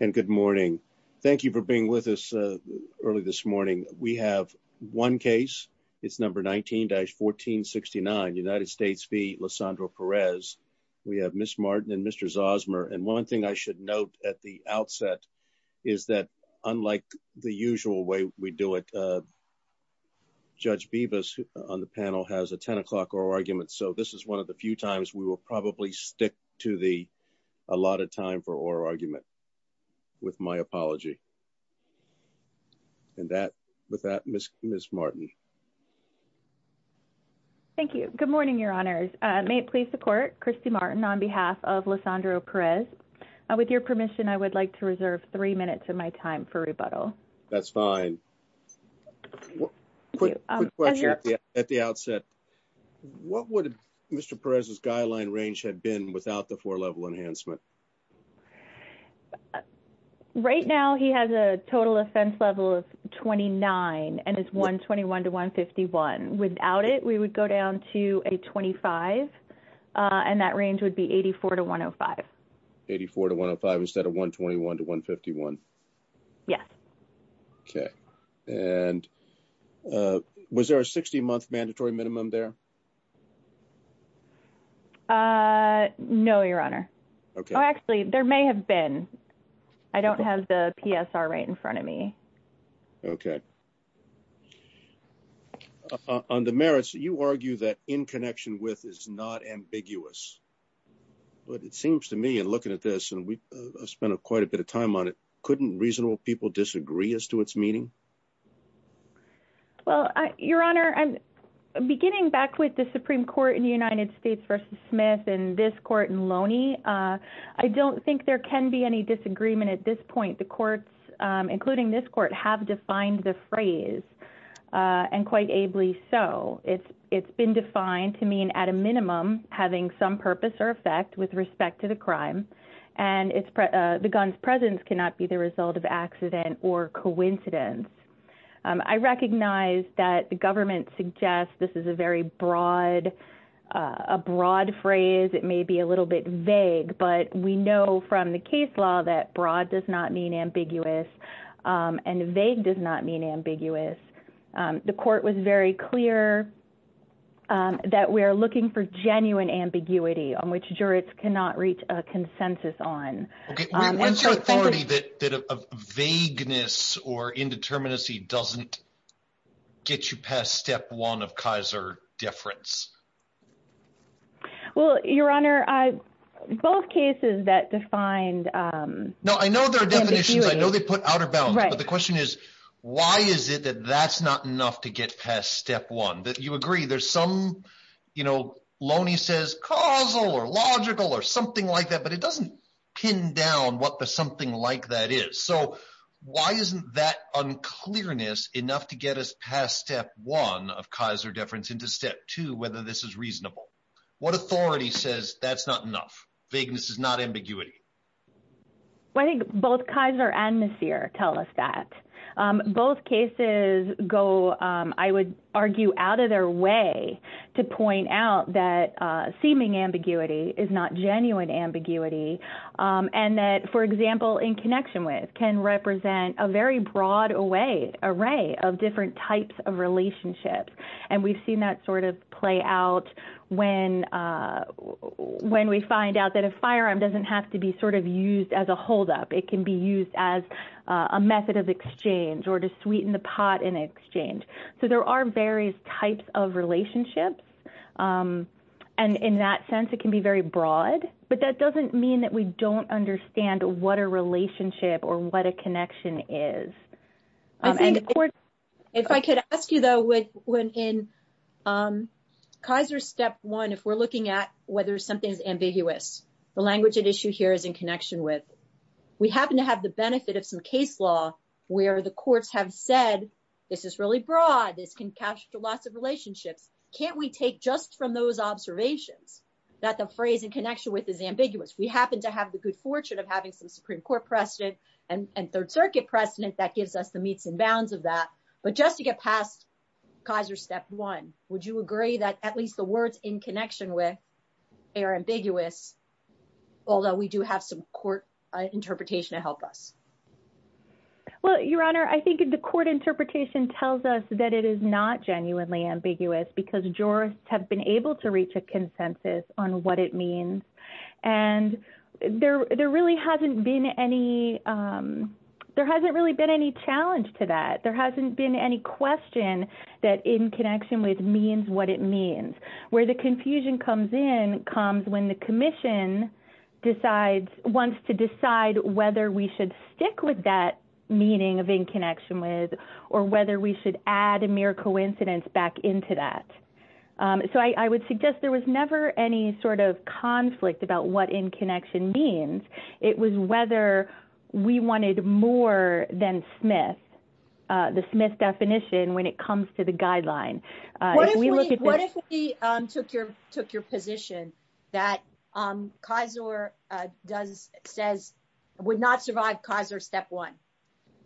And good morning. Thank you for being with us early this morning. We have one case. It's number 19-1469 United States v. Lisandro Perez. We have Ms. Martin and Mr. Zosmer. And one thing I should note at the outset is that unlike the usual way we do it, Judge Bibas on the panel has a 10 o'clock oral argument. So this is one of the few times we will probably stick to the allotted time for oral argument with my apology. With that, Ms. Martin. Thank you. Good morning, Your Honors. May it please the Court, Christy Martin on behalf of Lisandro Perez. With your permission, I would like to reserve three minutes of my time for rebuttal. That's fine. Quick question at the outset. What would Mr. Perez's guideline range have been without the four-level enhancement? Right now, he has a total offense level of 29 and is 121-151. Without it, we would go down to a 25 and that range would be 84-105. 84-105 instead of 121-151? Yes. Okay. And was there a 60-month mandatory minimum there? No, Your Honor. Okay. Oh, actually, there may have been. I don't have the PSR right in front of me. Okay. On the merits, you argue that in connection with is not ambiguous. But it seems to me in looking at this, and we spent quite a bit of time on it, couldn't reasonable people disagree as to meaning? Well, Your Honor, beginning back with the Supreme Court in the United States versus Smith and this court in Loney, I don't think there can be any disagreement at this point. The courts, including this court, have defined the phrase and quite ably so. It's been defined to mean at a minimum having some purpose or effect with respect to the crime. And the gun's presence cannot be the result of accident or coincidence. I recognize that the government suggests this is a very broad phrase. It may be a little bit vague, but we know from the case law that broad does not mean ambiguous and vague does not mean ambiguous. The court was very clear that we're looking for vagueness or indeterminacy doesn't get you past step one of Kaiser difference. Well, Your Honor, both cases that defined- No, I know there are definitions. I know they put outer bound. But the question is, why is it that that's not enough to get past step one? You agree there's some, Loney says causal or logical or something like that, but it doesn't pin down what the something like that is. So why isn't that unclearness enough to get us past step one of Kaiser difference into step two, whether this is reasonable? What authority says that's not enough? Vagueness is not ambiguity. Well, I think both Kaiser and Maseer tell us that. Both cases go, I would argue, out of their way to point out that seeming ambiguity is not genuine ambiguity. And that, for example, in connection with, can represent a very broad array of different types of relationships. And we've seen that sort of play out when we find out that a firearm doesn't have to be sort of used as a holdup. It can be used as a method of exchange or to sweeten the pot in exchange. So there are various types of relationships. And in that sense, it can be very broad. But that doesn't mean that we don't understand what a relationship or what a connection is. If I could ask you, though, when in Kaiser step one, if we're looking at whether something's ambiguous, the language at issue here is in connection with, we happen to have the benefit of some case law where the courts have said, this is really broad, this can capture lots of relationships. Can't we take just from those observations, that the phrase in connection with is ambiguous, we happen to have the good fortune of having some Supreme Court precedent, and Third Circuit precedent that gives us the meets and bounds of that. But just to get past Kaiser step one, would you agree that at least the words in connection with are ambiguous? Although we do have some court interpretation to help us? Well, Your Honor, I think the court interpretation tells us that it is not genuinely ambiguous, because jurists have been able to reach a consensus on what it means. And there really hasn't been any. There hasn't really been any challenge to that there hasn't been any question that in connection with means what it means, where the confusion comes in comes when the commission decides wants to decide whether we should stick with that meaning of in connection with, or whether we should add a mere coincidence back into that. So I would suggest there was never any sort of conflict about what in connection means, it was whether we wanted more than Smith, the Smith definition when it comes to the guideline. What if we took your took your position that Kaiser does says would not survive Kaiser step one?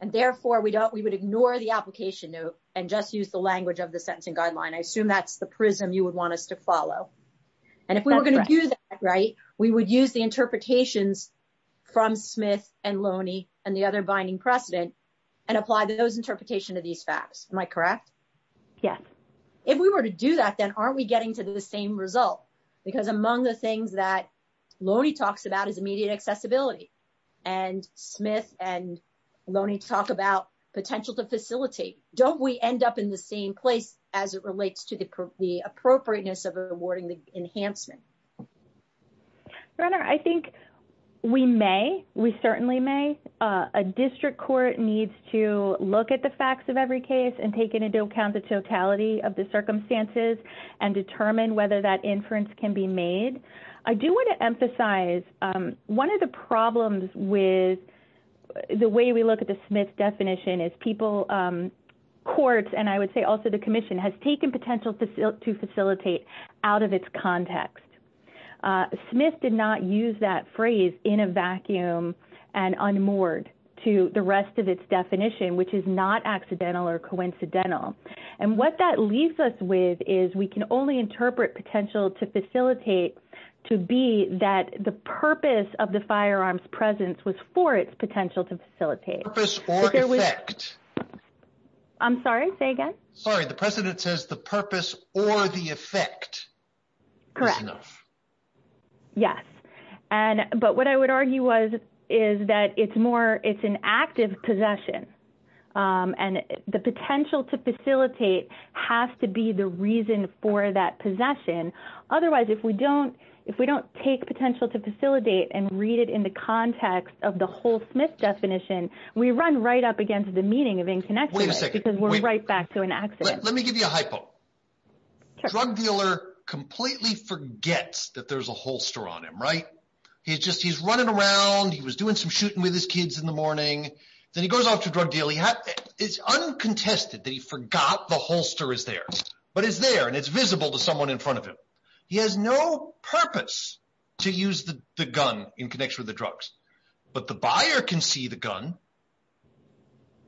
And therefore we don't we would ignore the application note and just use the language of the sentencing guideline. I assume that's the prism you would want us to follow. And if we were going to do that, right, we would use the interpretations from Smith and Loney, and the other binding precedent, and apply those interpretation of these facts. Am I correct? Yes. If we were to do that, then aren't we getting to the same result? Because among the things that Loney talks about is immediate accessibility. And Smith and Loney talk about potential to facilitate, don't we end up in the same place as it relates to the appropriateness of rewarding the enhancement? I think we may, we certainly may, a district court needs to look at the facts of every case and take into account the totality of the circumstances and determine whether that is appropriate. One of the problems with the way we look at the Smith definition is people, courts, and I would say also the commission has taken potential to facilitate out of its context. Smith did not use that phrase in a vacuum and unmoored to the rest of its definition, which is not accidental or coincidental. And what that leaves us with is we can only interpret potential to facilitate to be that the purpose of the firearms presence was for its potential to facilitate. Purpose or effect. I'm sorry, say again. Sorry. The precedent says the purpose or the effect. Correct. Yes. But what I would argue is that it's more, it's an active possession. Um, and the potential to facilitate has to be the reason for that possession. Otherwise, if we don't, if we don't take potential to facilitate and read it in the context of the whole Smith definition, we run right up against the meaning of inconnection because we're right back to an accident. Let me give you a hypo drug dealer completely forgets that there's a holster on him, right? He's just, he's running around. He was doing some shooting with his kids in the drug deal. He is uncontested that he forgot the holster is there, but it's there and it's visible to someone in front of him. He has no purpose to use the gun in connection with the drugs, but the buyer can see the gun.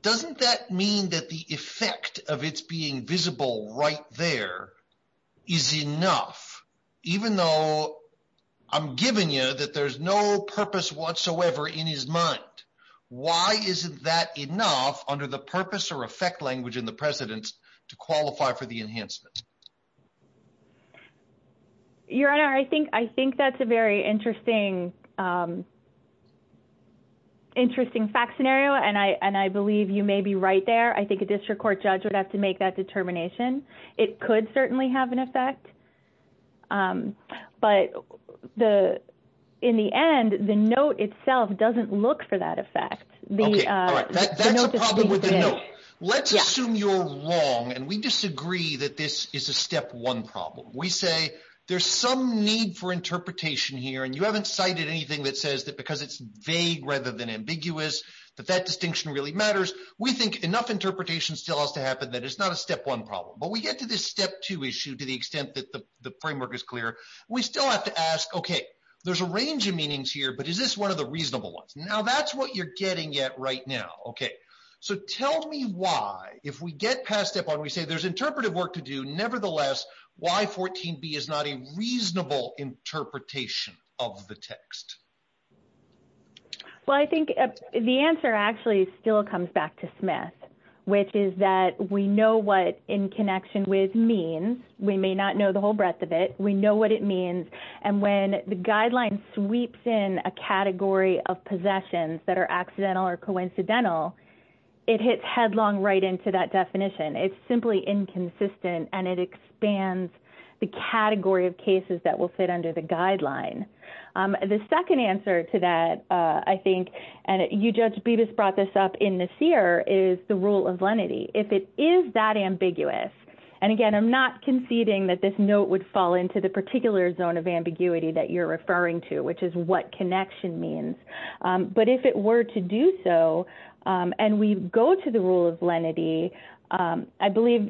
Doesn't that mean that the effect of it's being visible right there is enough, even though I'm giving you that there's no purpose whatsoever in his mind. Why isn't that enough under the purpose or effect language in the president's to qualify for the enhancement? Your Honor, I think, I think that's a very interesting, um, interesting fact scenario. And I, and I believe you may be right there. I think a district court judge would have to make that determination. It could certainly have an effect. Um, but the, in the end, the note itself doesn't look for that effect. Let's assume you're wrong. And we disagree that this is a step one problem. We say there's some need for interpretation here, and you haven't cited anything that says that because it's vague rather than ambiguous, that that distinction really matters. We think enough interpretation still has to happen. That is not a step one problem, but we get to this step two issue to the extent that the framework is clear. We still have to ask, okay, there's a range of meanings here, but is this one of the reasonable ones? Now that's what you're getting at right now. Okay. So tell me why if we get past step one, we say there's interpretive work to do. Nevertheless, why 14b is not a reasonable interpretation of the text. Well, I think the answer actually still comes back to Smith, which is that we know what in connection with means we may not know the whole breadth of it. We know what it means. And when the guideline sweeps in a category of possessions that are accidental or coincidental, it hits headlong right into that definition. It's simply inconsistent, and it expands the category of cases that will fit under the guideline. The second answer to that, I think, and you, Judge Bibas brought this up in Nasir, is the rule of lenity. If it is that the particular zone of ambiguity that you're referring to, which is what connection means, but if it were to do so, and we go to the rule of lenity, I believe,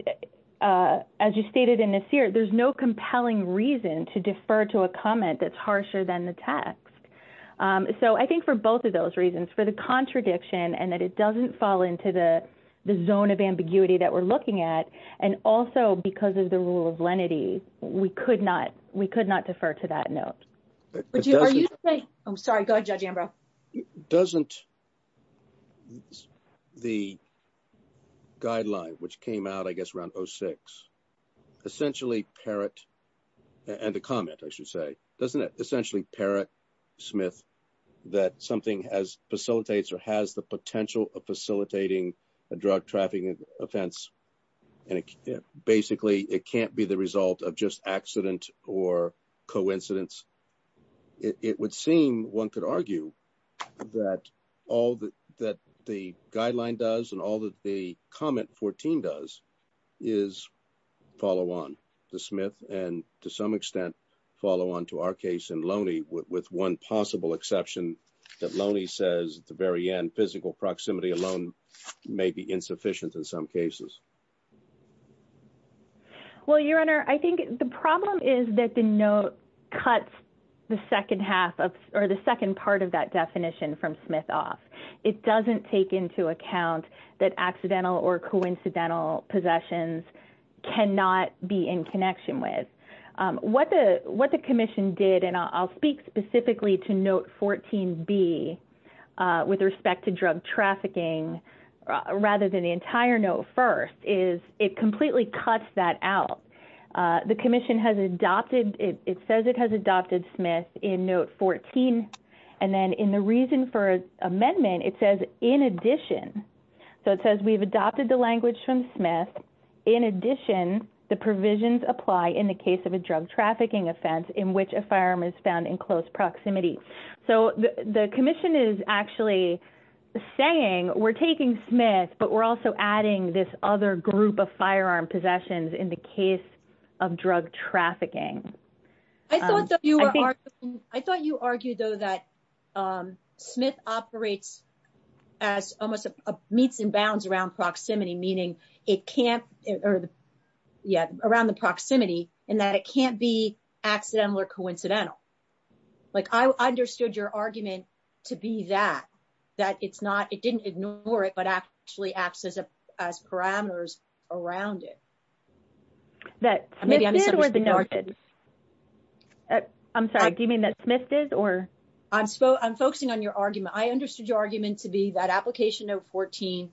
as you stated in Nasir, there's no compelling reason to defer to a comment that's harsher than the text. So I think for both of those reasons, for the contradiction and that it doesn't fall into the zone of ambiguity that we're looking at, and also because of the rule of lenity, we could not defer to that note. I'm sorry, go ahead, Judge Ambrose. Doesn't the guideline, which came out, I guess, around 06, essentially parrot, and a comment, I should say, doesn't it essentially parrot, Smith, that something has facilitates or has the potential of facilitating a drug trafficking offense? And basically, it can't be the result of just accident or coincidence. It would seem, one could argue, that all that the guideline does and all that the comment 14 does is follow on to Smith, and to some extent, follow on to our case in Loney with one possible exception that Loney says at the very end, physical proximity alone may be insufficient in some cases. Well, Your Honor, I think the problem is that the note cuts the second half of, or the second part of that definition from Smith off. It doesn't take into account that accidental or coincidental possessions cannot be in connection with. What the commission did, and I'll speak specifically to note 14b with respect to drug trafficking, rather than the entire note first, is it completely cuts that out. The commission has adopted, it says it has adopted Smith in note 14. And then in the reason for amendment, it says, in addition, so it says, we've adopted the language from Smith. In addition, the provisions apply in the case of a drug trafficking offense in which a firearm is found in close proximity. So the commission is actually saying we're taking Smith, but we're also adding this other group of firearm possessions in the case of drug trafficking. I thought you argued, though, that Smith operates as almost meets in bounds around proximity, meaning it can't, or yeah, around the proximity, like I understood your argument to be that, that it's not, it didn't ignore it, but actually acts as parameters around it. That Smith did was denoted. I'm sorry, do you mean that Smith did or? I'm focusing on your argument. I understood your argument to be that application of 14,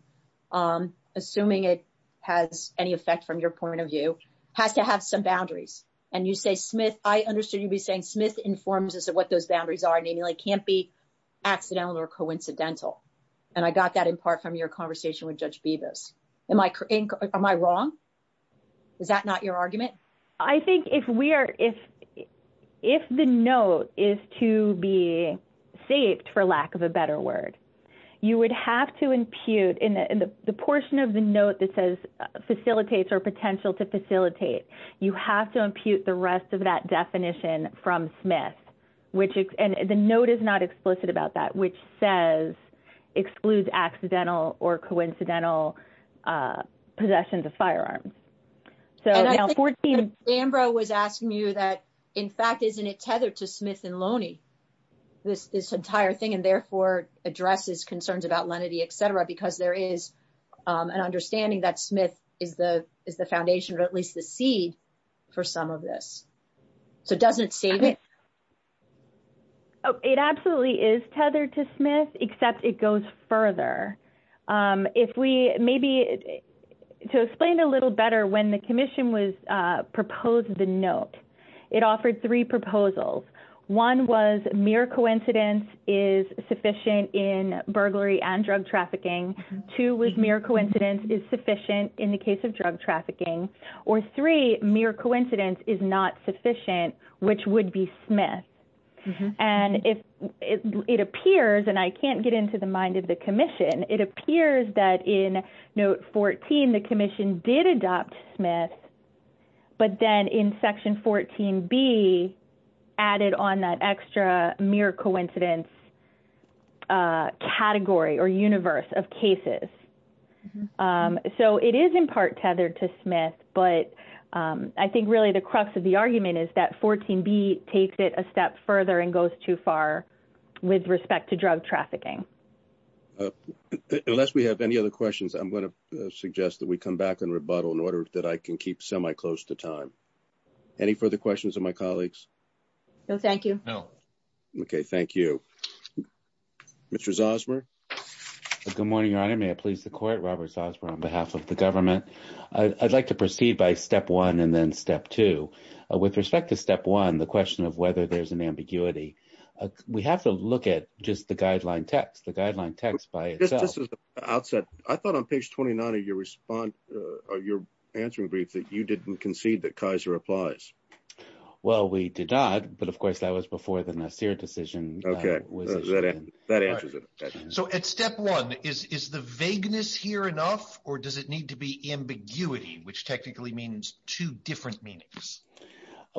assuming it has any effect from your point of view, has to have some boundaries. And you say Smith, I understood you'd be saying Smith informs us of what those boundaries are, namely can't be accidental or coincidental. And I got that in part from your conversation with Judge Bevis. Am I wrong? Is that not your argument? I think if we are, if the note is to be saved, for lack of a better word, you would have to impute in the portion of the note that says facilitates or potential to facilitate. You have to impute the rest of that definition from Smith, which, and the note is not explicit about that, which says, excludes accidental or coincidental possessions of firearms. So now 14. Ambrose was asking you that, in fact, isn't it tethered to Smith and Loney? This, this entire thing, and therefore addresses concerns about lenity, et cetera, because there is an understanding that Smith is the, is the foundation, or at least the seed for some of this. So doesn't save it. Oh, it absolutely is tethered to Smith, except it goes further. If we maybe, to explain a little better, when the commission was proposed the note, it offered three proposals. One was mere coincidence is sufficient in burglary and drug trafficking. Two was mere coincidence is sufficient in the case of drug trafficking. Or three, mere coincidence is not sufficient, which would be Smith. And if it appears, and I can't get into the mind of the commission, it appears that in note 14, the commission did adopt Smith. But then in section 14, be added on that extra mere coincidence. Category or universe of cases. So it is in part tethered to Smith. But I think really the crux of the argument is that 14 B takes it a step further and goes too far. With respect to drug trafficking. Unless we have any other questions, I'm going to suggest that we come back and rebuttal in order that I can keep semi close to time. Any further questions of my colleagues? No, thank you. No. Okay, thank you. Mr. Zosmer. Good morning, Your Honor. May I please the court, Robert Zosmer on behalf of the government. I'd like to proceed by step one and then step two. With respect to step one, the question of whether there's an ambiguity. We have to look at just the guideline text, the guideline text by itself. Outset. I thought on page 29 of your response, you're answering grief that you didn't concede that Kaiser applies. Well, we did not. But of course, that was before the Nassir decision. Okay, that answers it. So at step one, is the vagueness here enough? Or does it need to be ambiguity, which technically means two different meanings?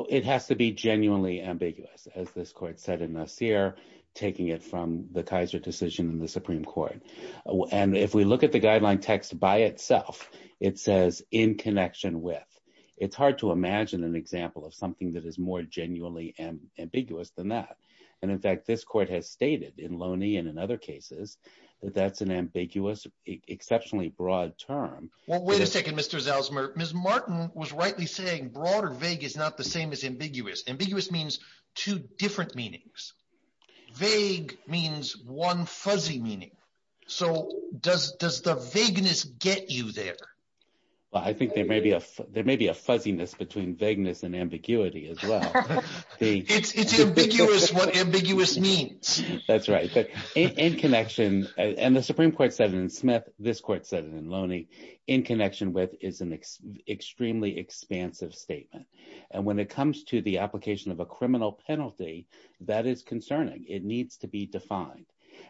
It has to be genuinely ambiguous, as this court said in Nassir, taking it from the Kaiser decision in the Supreme Court. And if we look at the guideline text by itself, it says in connection with. It's hard to imagine an example of something that is more genuinely ambiguous than that. And in fact, this court has stated in Loney and in other cases, that's an ambiguous, exceptionally broad term. Well, wait a second, Mr. Zosmer. Ms. Martin was rightly saying broader vague is not the same as ambiguous. Ambiguous means two different meanings. Vague means one fuzzy meaning. So does the vagueness get you there? Well, I think there may be a fuzziness between vagueness and ambiguity as well. It's ambiguous what ambiguous means. That's right. And the Supreme Court said it in Smith. This court said it in Loney. In connection with is an extremely expansive statement. And when it comes to the application of a criminal penalty, that is concerning. It needs to be defined.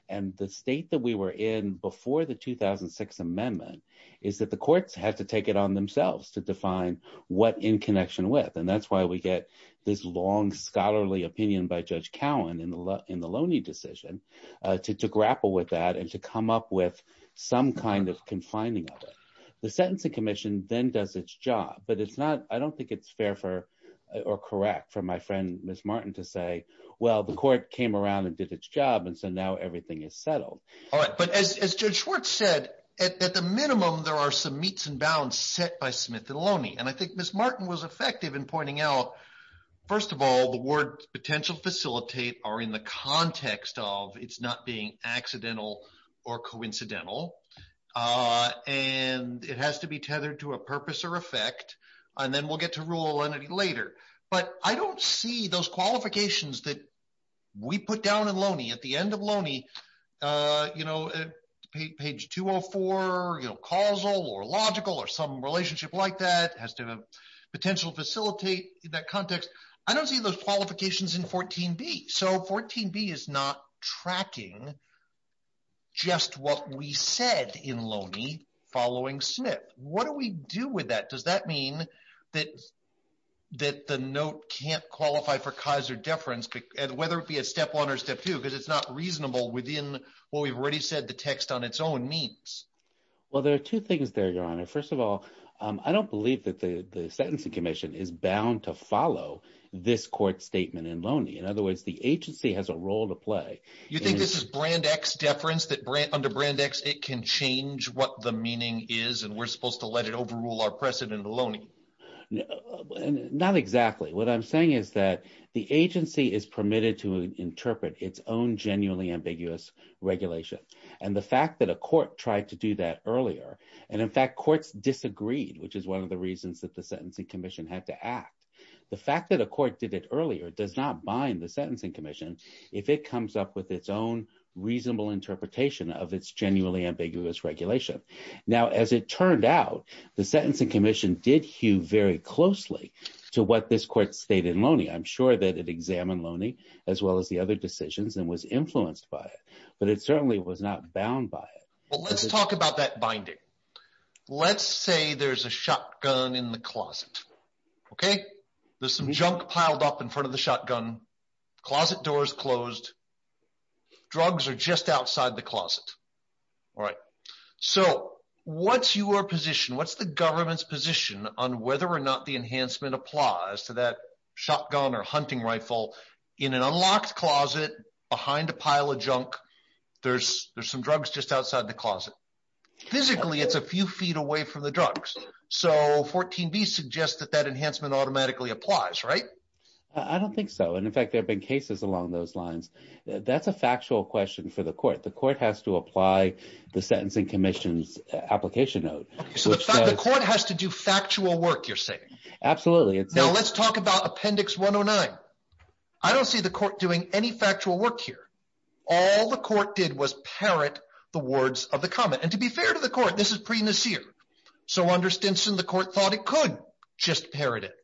And the state that we were in before the 2006 amendment is that the courts had to take it on themselves to define what in connection with. And that's why we get this long scholarly opinion by Judge Cowan in the Loney decision to grapple with that and to come up with some kind of confining of it. The Sentencing Commission then does its job, but it's not, I don't think it's fair for or correct for my friend, Ms. Martin to say, well, the court came around and did its job. And so now everything is settled. All right. But as Judge Schwartz said, at the minimum, there are some meets and bounds set by Smith and Loney. And I think Ms. Martin was effective in pointing out, first of all, the word potential facilitate are in the context of it's not being accidental or coincidental. And it has to be tethered to a purpose or effect. And then we'll get to rule entity later. But I don't see those qualifications that we put down in Loney. At the end of Loney, page 204, causal or logical or some relationship like that has to have potential facilitate in that context. I don't see those qualifications in 14b. So 14b is not tracking just what we said in Loney following Smith. What do we do with that? Does that mean that the note can't qualify for Kaiser deference, whether it be a step one or step two? Because it's not reasonable within what we've already said the text on its own means. Well, there are two things there, Your Honor. First of all, I don't believe that the sentencing commission is bound to follow this court statement in Loney. In other words, the agency has a role to play. You think this is brand X deference that under brand X, it can change what the meaning is? We're supposed to let it overrule our precedent in Loney? Not exactly. What I'm saying is that the agency is permitted to interpret its own genuinely ambiguous regulation. And the fact that a court tried to do that earlier, and in fact, courts disagreed, which is one of the reasons that the sentencing commission had to act. The fact that a court did it earlier does not bind the sentencing commission if it comes up with its own reasonable interpretation of its genuinely ambiguous regulation. Now, as it turned out, the sentencing commission did hew very closely to what this court stated in Loney. I'm sure that it examined Loney, as well as the other decisions and was influenced by it. But it certainly was not bound by it. Well, let's talk about that binding. Let's say there's a shotgun in the closet. Okay, there's some junk piled up in front of the shotgun. Closet doors closed. Drugs are just outside the closet. All right. So what's your position? What's the government's position on whether or not the enhancement applies to that shotgun or hunting rifle in an unlocked closet behind a pile of junk? There's some drugs just outside the closet. Physically, it's a few feet away from the drugs. So 14b suggests that that enhancement automatically applies, right? I don't think so. And in fact, there have been cases along those lines. That's a factual question for the court. The court has to apply the Sentencing Commission's application note. So the court has to do factual work, you're saying? Absolutely. Now let's talk about Appendix 109. I don't see the court doing any factual work here. All the court did was parrot the words of the comment. And to be fair to the court, this is pre-Nasir. So under Stinson, the court thought it could just parrot it.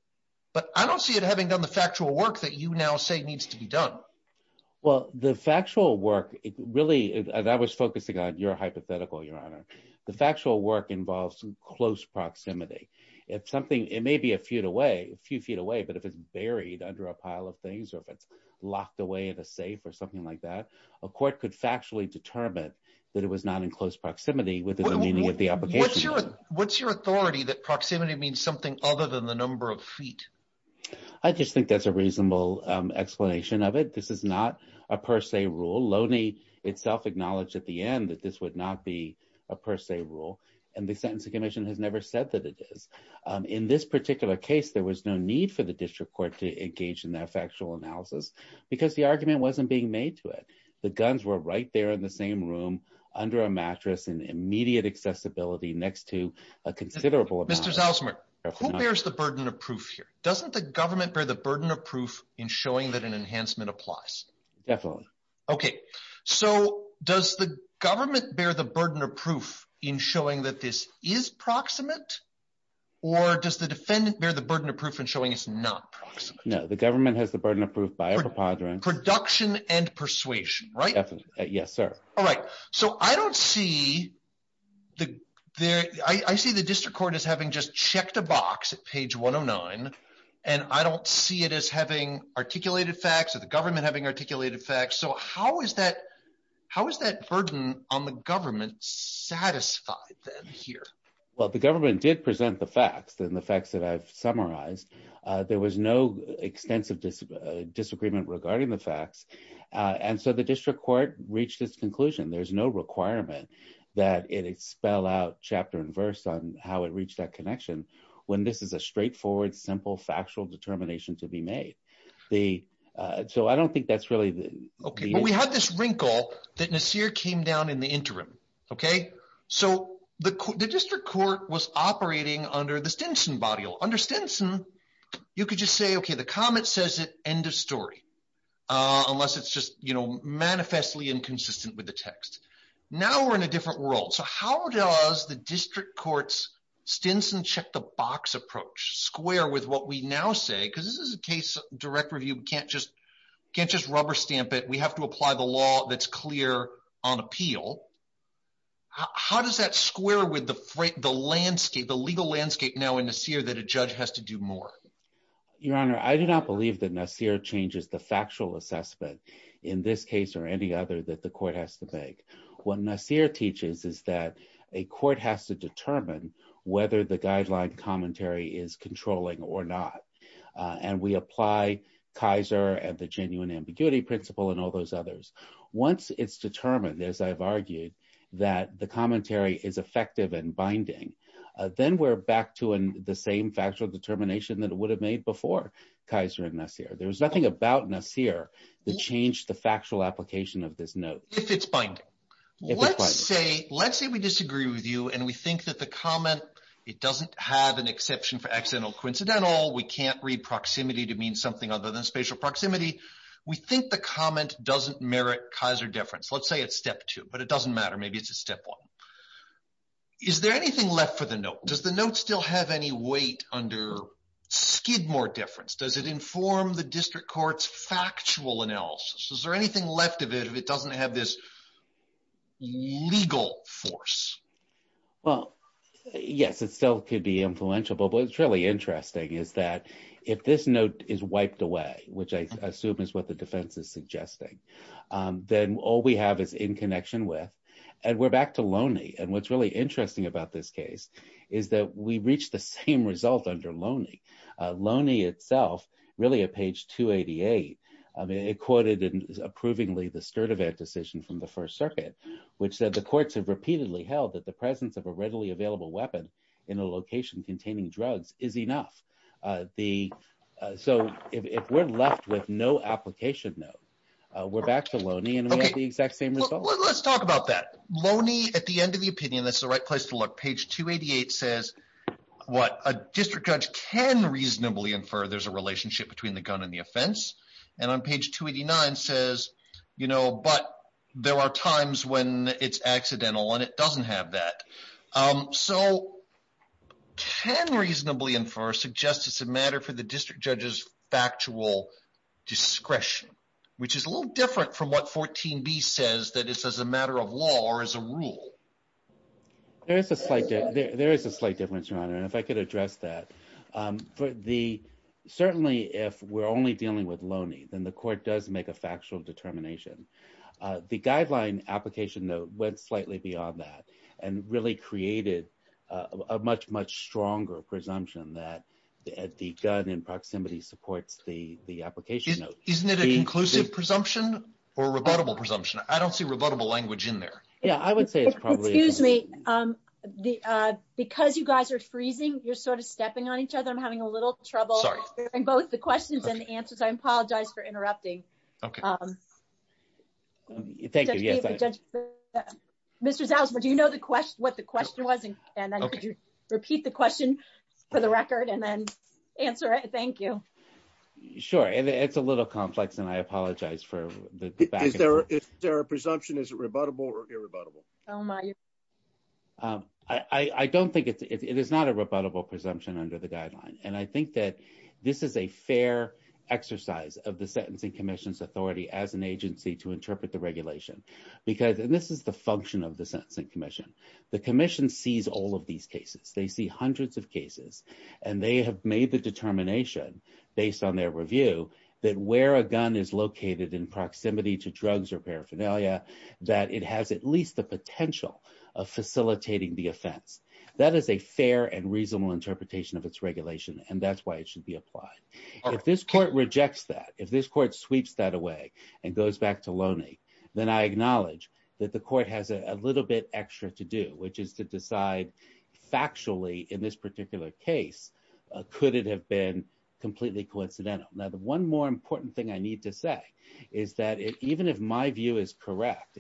But I don't see it having done the factual work that you now say needs to be done. Well, the factual work, really, as I was focusing on your hypothetical, Your Honor, the factual work involves close proximity. If something, it may be a few feet away, but if it's buried under a pile of things, or if it's locked away in a safe or something like that, a court could factually determine that it was not in close proximity within the meaning of the application. What's your authority that proximity means something other than the number of feet? I just think that's a reasonable explanation of it. This is not a per se rule. Loney itself acknowledged at the end that this would not be a per se rule. And the Sentencing Commission has never said that it is. In this particular case, there was no need for the District Court to engage in that factual analysis because the argument wasn't being made to it. The guns were right there in the same room, under a mattress, in immediate accessibility next to a considerable amount of— Doesn't the government bear the burden of proof in showing that an enhancement applies? Definitely. Okay, so does the government bear the burden of proof in showing that this is proximate? Or does the defendant bear the burden of proof in showing it's not proximate? No, the government has the burden of proof by a preponderance— Production and persuasion, right? Yes, sir. All right. So I see the District Court as having just checked a box at page 109, and I don't see it as having articulated facts or the government having articulated facts. So how is that burden on the government satisfied then here? Well, the government did present the facts and the facts that I've summarized. There was no extensive disagreement regarding the facts. And so the District Court reached its conclusion. There's no requirement that it spell out chapter and verse on how it reached that connection when this is a straightforward, simple, factual determination to be made. So I don't think that's really the— Okay, but we have this wrinkle that Nasir came down in the interim, okay? So the District Court was operating under the Stinson body law. Under Stinson, you could just say, okay, the comment says it, end of story, unless it's just manifestly inconsistent with the text. Now we're in a different world. So how does the District Court's Stinson check-the-box approach square with what we now say? Because this is a case of direct review. We can't just rubber stamp it. We have to apply the law that's clear on appeal. How does that square with the legal landscape now in Nasir that a judge has to do more? Your Honor, I do not believe that Nasir changes the factual assessment in this case or any other that the court has to make. What Nasir teaches is that a court has to determine whether the guideline commentary is controlling or not. And we apply Kaiser and the genuine ambiguity principle and all those others. Once it's determined, as I've argued, that the commentary is effective and binding, then we're back to the same factual determination that it would have made before Kaiser and Nasir. There was nothing about Nasir that changed the factual application of this note. If it's binding. Let's say we disagree with you and we think that the comment, it doesn't have an exception for accidental coincidental, we can't read proximity to mean something other than spatial proximity. We think the comment doesn't merit Kaiser difference. Let's say it's step two, but it doesn't matter. Maybe it's a step one. Is there anything left for the note? Does the note still have any weight under Skidmore difference? Does it inform the district court's factual analysis? Is there anything left of it if it doesn't have this legal force? Well, yes, it still could be influential. But what's really interesting is that if this note is wiped away, which I assume is what the defense is suggesting, then all we have is in connection with. And we're back to Loney. And what's really interesting about this case is that we reached the same result under Loney. Loney itself, really at page 288, it quoted approvingly the Sturtevant decision from the first circuit, which said the courts have repeatedly held that the presence of a readily available weapon in a location containing drugs is enough. The so if we're left with no application note, we're back to Loney and we have the exact same result. Let's talk about that. Loney at the end of the opinion, that's the right place to look. Page 288 says what a district judge can reasonably infer. There's a relationship between the gun and the offense. And on page 289 says, you know, but there are times when it's accidental and it doesn't have that. So can reasonably infer suggests it's a matter for the district judge's factual discretion, which is a little different from what 14b says that it's as a matter of law or as a rule. There is a slight, there is a slight difference, Your Honor. And if I could address that for the, certainly if we're only dealing with Loney, then the court does make a factual determination. The guideline application note went slightly beyond that and really created a much, much stronger presumption that the gun in proximity supports the application note. Isn't it an inclusive presumption or rebuttable presumption? I don't see rebuttable language in there. Yeah, I would say it's probably. Excuse me. Because you guys are freezing, you're sort of stepping on each other. I'm having a little trouble hearing both the questions and the answers. I apologize for interrupting. Okay. Thank you. Mr. Salzman, do you know what the question was? And then could you repeat the question for the record and then answer it? Thank you. Sure. It's a little complex and I apologize for the back. Is there a presumption? Is it rebuttable or irrebuttable? Oh, my. I don't think it is not a rebuttable presumption under the guideline. I think that this is a fair exercise of the Sentencing Commission's authority as an agency to interpret the regulation. This is the function of the Sentencing Commission. The commission sees all of these cases. They see hundreds of cases and they have made the determination based on their review that where a gun is located in proximity to drugs or paraphernalia, that it has at least the potential of facilitating the offense. That is a fair and reasonable interpretation of its regulation, and that's why it should be applied. If this court rejects that, if this court sweeps that away and goes back to Loney, then I acknowledge that the court has a little bit extra to do, which is to decide factually in this particular case, could it have been completely coincidental? Now, the one more important thing I need to say is that even if my view is correct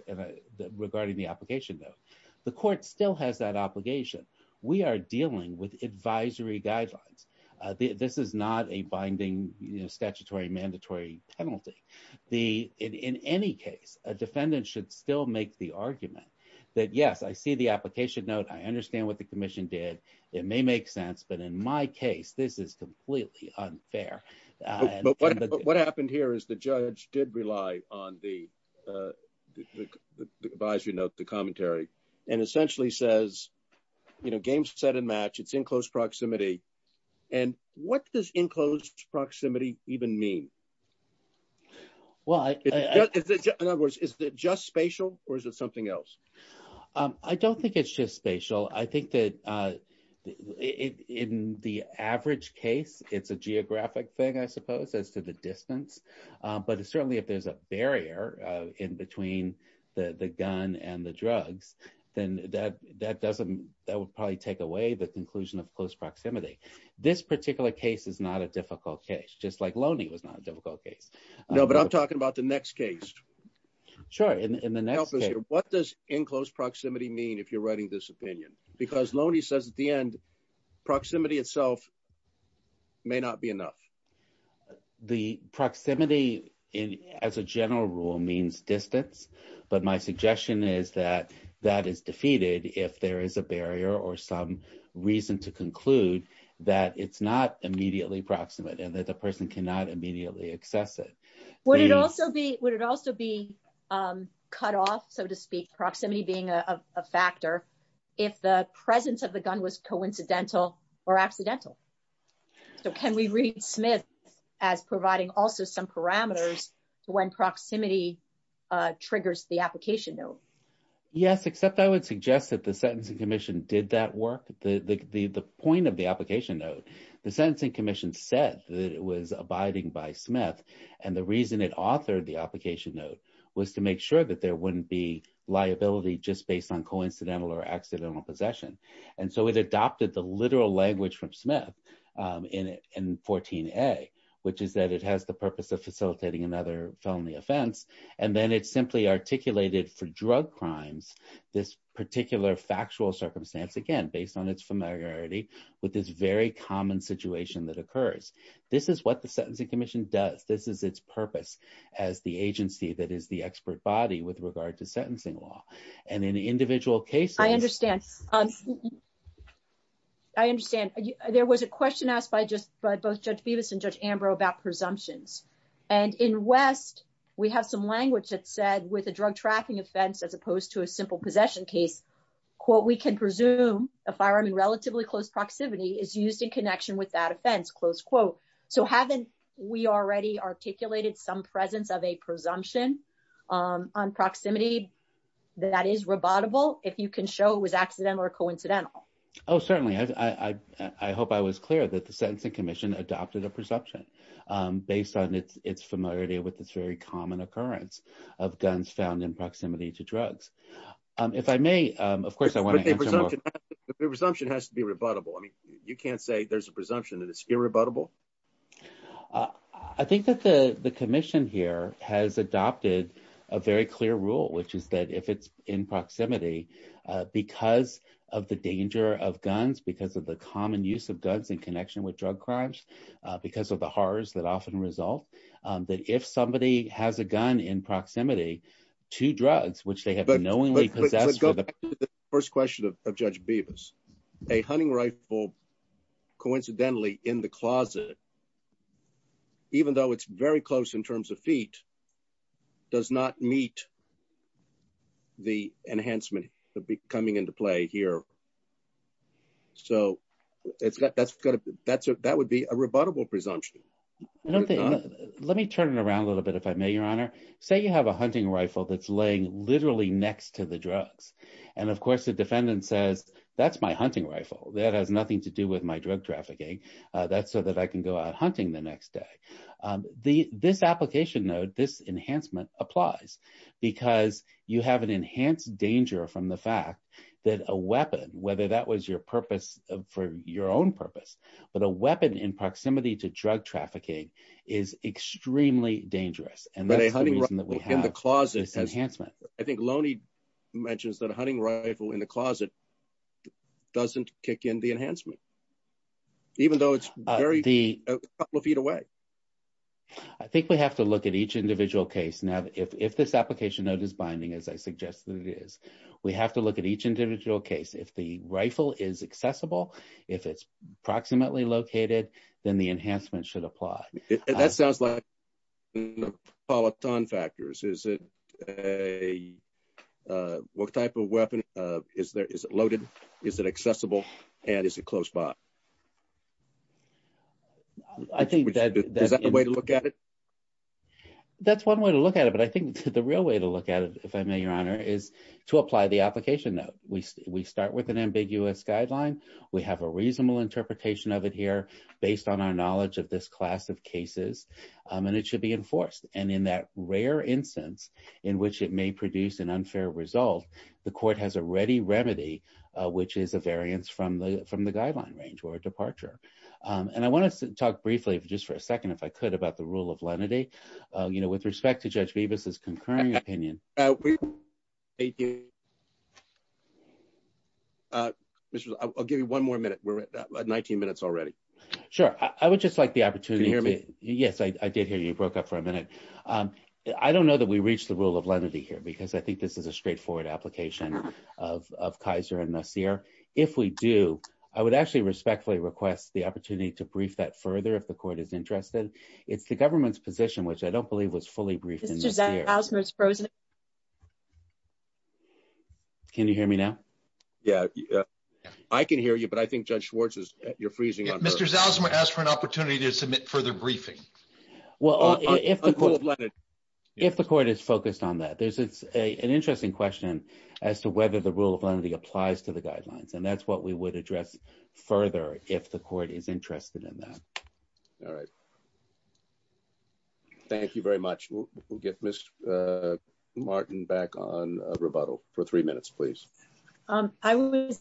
regarding the application note, the court still has that obligation. We are dealing with advisory guidelines. This is not a binding statutory mandatory penalty. In any case, a defendant should still make the argument that, yes, I see the application note. I understand what the commission did. It may make sense, but in my case, this is completely unfair. But what happened here is the judge did rely on the advisory note, the commentary, and essentially says, game set and match, it's in close proximity. What does in close proximity even mean? In other words, is it just spatial or is it something else? I don't think it's just spatial. I think that in the average case, it's a geographic thing, I suppose, as to the distance. But certainly, if there's a barrier in between the gun and the drugs, then that would probably take away the conclusion of close proximity. This particular case is not a difficult case, just like Loney was not a difficult case. No, but I'm talking about the next case. Sure. What does in close proximity mean if you're writing this opinion? Loney says at the end, proximity itself may not be enough. The proximity as a general rule means distance, but my suggestion is that that is defeated if there is a barrier or some reason to conclude that it's not immediately proximate and that the person cannot immediately access it. Would it also be cut off, so to speak, proximity being a factor if the presence of the gun was coincidental or accidental? Can we read Smith as providing also some parameters when proximity triggers the application note? Yes, except I would suggest that the Sentencing Commission did that work. The point of the application note, the Sentencing Commission said that it was abiding by Smith, and the reason it authored the application note was to make sure that there wouldn't be accidental possession. And so it adopted the literal language from Smith in 14a, which is that it has the purpose of facilitating another felony offense. And then it simply articulated for drug crimes, this particular factual circumstance, again, based on its familiarity with this very common situation that occurs. This is what the Sentencing Commission does. This is its purpose as the agency that is the expert body with regard to sentencing law. And in individual cases... I understand. I understand. There was a question asked by both Judge Bevis and Judge Ambrose about presumptions. And in West, we have some language that said, with a drug trafficking offense, as opposed to a simple possession case, quote, we can presume a firearm in relatively close proximity is used in connection with that offense, close quote. So haven't we already articulated some presence of a presumption on proximity that is rebuttable if you can show it was accidental or coincidental? Oh, certainly. I hope I was clear that the Sentencing Commission adopted a presumption based on its familiarity with this very common occurrence of guns found in proximity to drugs. If I may, of course, I want to... But the presumption has to be rebuttable. I mean, you can't say there's a presumption that it's irrebuttable? I think that the Commission here has adopted a very clear rule, which is that if it's in proximity, because of the danger of guns, because of the common use of guns in connection with drug crimes, because of the horrors that often result, that if somebody has a gun in proximity to drugs, which they have knowingly possessed... But going back to the first question of Judge Bevis, a hunting rifle coincidentally in the closet, even though it's very close in terms of feet, does not meet the enhancement coming into play here. So that would be a rebuttable presumption. Let me turn it around a little bit, if I may, Your Honor. Say you have a hunting rifle that's laying literally next to the drugs. And, of course, the defendant says, that's my hunting rifle. That has nothing to do with my drug trafficking. That's so that I can go out hunting the next day. This application, though, this enhancement applies because you have an enhanced danger from the fact that a weapon, whether that was your purpose for your own purpose, but a weapon in proximity to drug trafficking is extremely dangerous. And that's the reason that we have this enhancement. I think Loney mentions that a hunting rifle in the closet doesn't kick in the enhancement, even though it's a couple of feet away. I think we have to look at each individual case. Now, if this application note is binding, as I suggested it is, we have to look at each individual case. If the rifle is accessible, if it's proximately located, then the enhancement should apply. That sounds like a polyton factors. Is it a, what type of weapon? Is there, is it loaded? Is it accessible? And is it close by? Is that the way to look at it? That's one way to look at it. But I think the real way to look at it, if I may, Your Honor, is to apply the application note. We start with an ambiguous guideline. We have a reasonable interpretation of it here based on our knowledge of this class of cases. And it should be enforced. And in that rare instance, in which it may produce an unfair result, the court has a ready remedy, which is a variance from the guideline range or a departure. And I want us to talk briefly, just for a second, if I could, about the rule of lenity, with respect to Judge Bibas's concurring opinion. I'll give you one more minute. We're at 19 minutes already. Sure, I would just like the opportunity to hear me. Yes, I did hear you. I don't know that we reached the rule of lenity here, because I think this is a straightforward application of Kaiser and Nasir. If we do, I would actually respectfully request the opportunity to brief that further if the court is interested. It's the government's position, which I don't believe was fully briefed. Can you hear me now? Yeah, I can hear you. But I think Judge Schwartz, you're freezing. Mr. Zalzma asked for an opportunity to submit further briefing. Well, if the court is focused on that, there's an interesting question as to whether the rule of lenity applies to the guidelines. And that's what we would address further if the court is interested in that. All right. Thank you very much. We'll get Ms. Martin back on rebuttal for three minutes, please. I was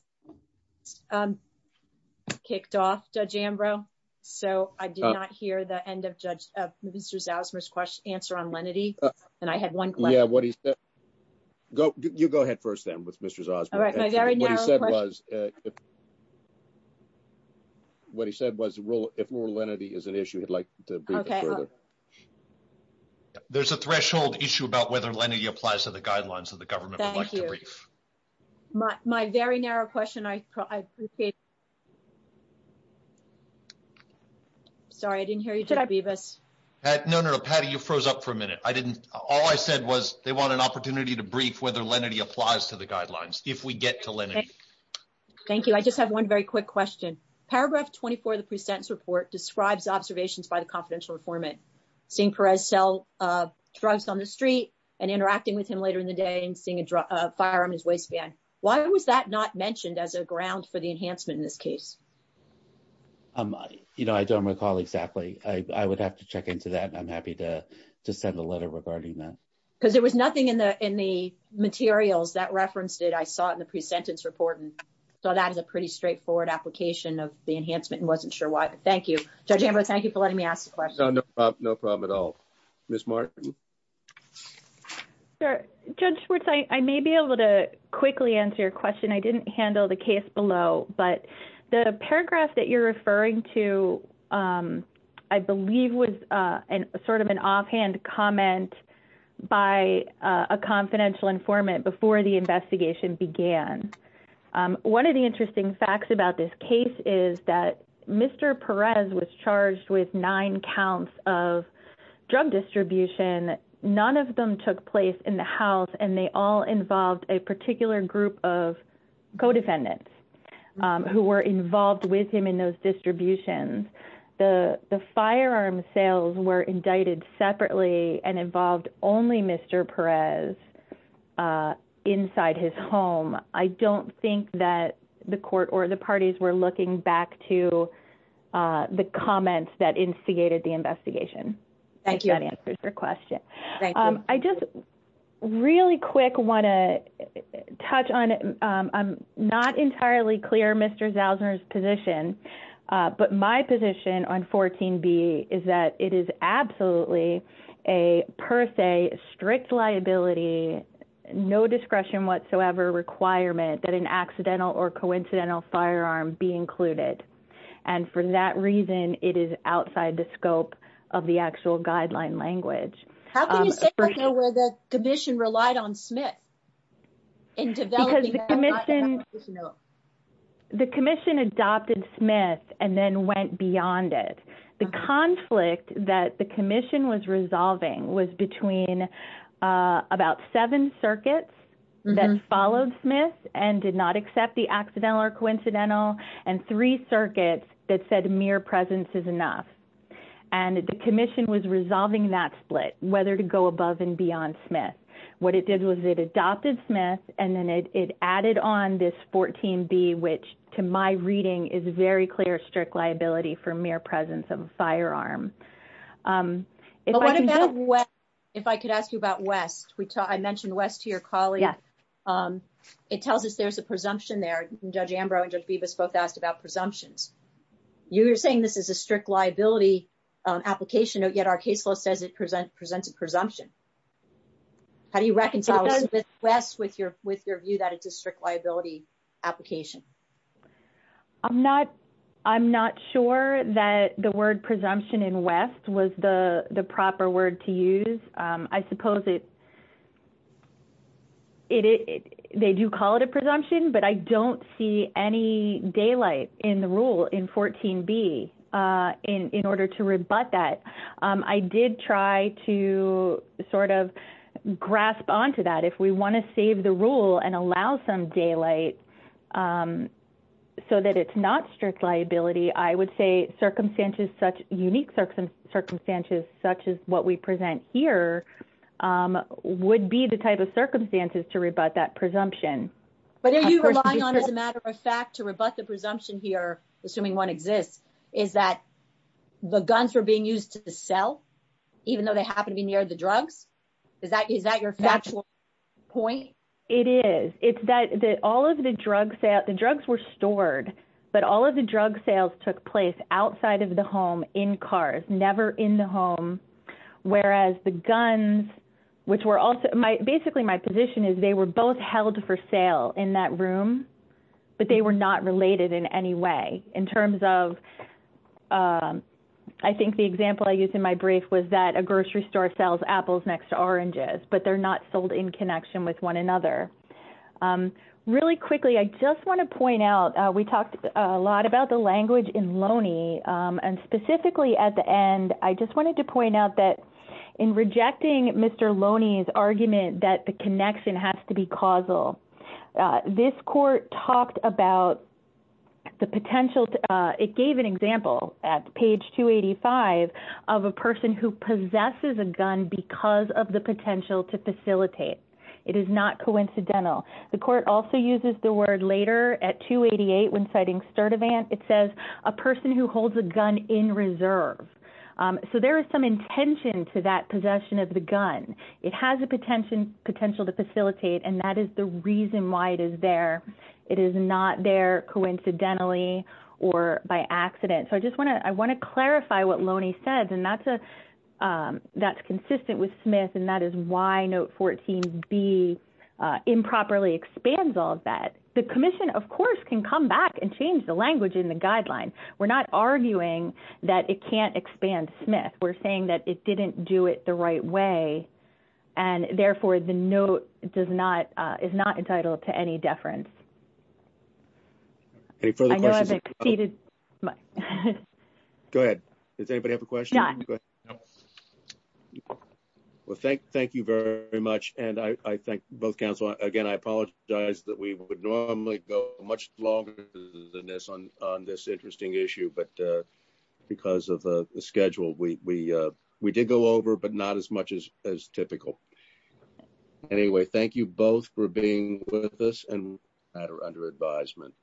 kicked off, Judge Ambrose. So I did not hear the end of Mr. Zalzma's answer on lenity. And I had one question. Yeah, what he said. You go ahead first, then, with Mr. Zalzma. All right, my very narrow question. What he said was, if rule of lenity is an issue, he'd like to brief it further. There's a threshold issue about whether lenity applies to the guidelines that the government would like to brief. My very narrow question, I appreciate. I'm sorry, I didn't hear you, Judge Bevis. No, no, no. Patty, you froze up for a minute. I didn't. All I said was they want an opportunity to brief whether lenity applies to the guidelines if we get to lenity. Thank you. I just have one very quick question. Paragraph 24 of the pre-sentence report describes observations by the confidential informant, seeing Perez sell drugs on the street and interacting with him later in the day and seeing a firearm in his waistband. Why was that not mentioned as a ground for the enhancement in this case? You know, I don't recall exactly. I would have to check into that. I'm happy to send a letter regarding that. Because there was nothing in the materials that referenced it. I saw it in the pre-sentence report and saw that as a pretty straightforward application of the enhancement and wasn't sure why. Thank you. Judge Ambrose, thank you for letting me ask the question. No, no problem at all. Ms. Martin? Judge Schwartz, I may be able to quickly answer your question. I didn't handle the case below, but the paragraph that you're referring to, I believe was sort of an offhand comment by a confidential informant before the investigation began. One of the interesting facts about this case is that Mr. Perez was charged with nine counts of drug distribution. None of them took place in the house and they all involved a particular group of co-defendants. Who were involved with him in those distributions. The firearm sales were indicted separately and involved only Mr. Perez inside his home. I don't think that the court or the parties were looking back to the comments that instigated the investigation. Thank you. That answers your question. I just really quick want to touch on, I'm not entirely clear Mr. Zausner's position, but my position on 14B is that it is absolutely a per se strict liability, no discretion whatsoever requirement that an accidental or coincidental firearm be included. And for that reason, it is outside the scope of the actual guideline language. How can you say that the commission relied on Smith in developing that split? The commission adopted Smith and then went beyond it. The conflict that the commission was resolving was between about seven circuits that followed Smith and did not accept the accidental or coincidental and three circuits that said mere presence is enough. And the commission was resolving that split whether to go above and beyond Smith. What it did was it adopted Smith and then it added on this 14B, which to my reading is very clear strict liability for mere presence of a firearm. If I could ask you about West, I mentioned West to your colleague. It tells us there's a presumption there. Judge Ambrose and Judge Bibas both asked about presumptions. You were saying this is a strict liability application, yet our case law says it presents a presumption. How do you reconcile West with your view that it's a strict liability application? I'm not sure that the word presumption in West was the proper word to use. I suppose they do call it a presumption, but I don't see any daylight in the rule in 14B in order to rebut that. I did try to sort of grasp onto that. If we want to save the rule and allow some daylight so that it's not strict liability, I would say unique circumstances such as what we present here would be the type of circumstances to rebut that presumption. But are you relying on as a matter of fact to rebut the presumption here, assuming one exists, is that the guns were being used to sell even though they happen to be near the drugs? Is that your factual point? It is. The drugs were stored, but all of the drug sales took place outside of the home in cars, never in the home. Whereas the guns, which were also... Basically, my position is they were both held for sale in that room, but they were not related in any way in terms of... I think the example I used in my brief was that a grocery store sells apples next to oranges, but they're not sold in connection with one another. Really quickly, I just want to point out, we talked a lot about the language in Loney and specifically at the end, I just wanted to point out that in rejecting Mr. Loney's argument that the connection has to be causal, this court talked about the potential... It gave an example at page 285 of a person who possesses a gun because of the potential to facilitate. It is not coincidental. The court also uses the word later at 288 when citing Sturdivant, it says a person who holds a gun in reserve. So there is some intention to that possession of the gun. It has a potential to facilitate and that is the reason why it is there. It is not there coincidentally or by accident. I want to clarify what Loney says and that's consistent with Smith and that is why note 14B improperly expands all of that. The commission, of course, can come back and change the language in the guideline. We're not arguing that it can't expand Smith. We're saying that it didn't do it the right way and therefore the note is not entitled to any deference. Any further questions? I know I've exceeded my... Go ahead. Does anybody have a question? No. Well, thank you very much and I thank both counsel. Again, I apologize that we would normally go much longer than this on this interesting issue but because of the schedule, we did go over but not as much as typical. Anyway, thank you both for being with us and under advisement.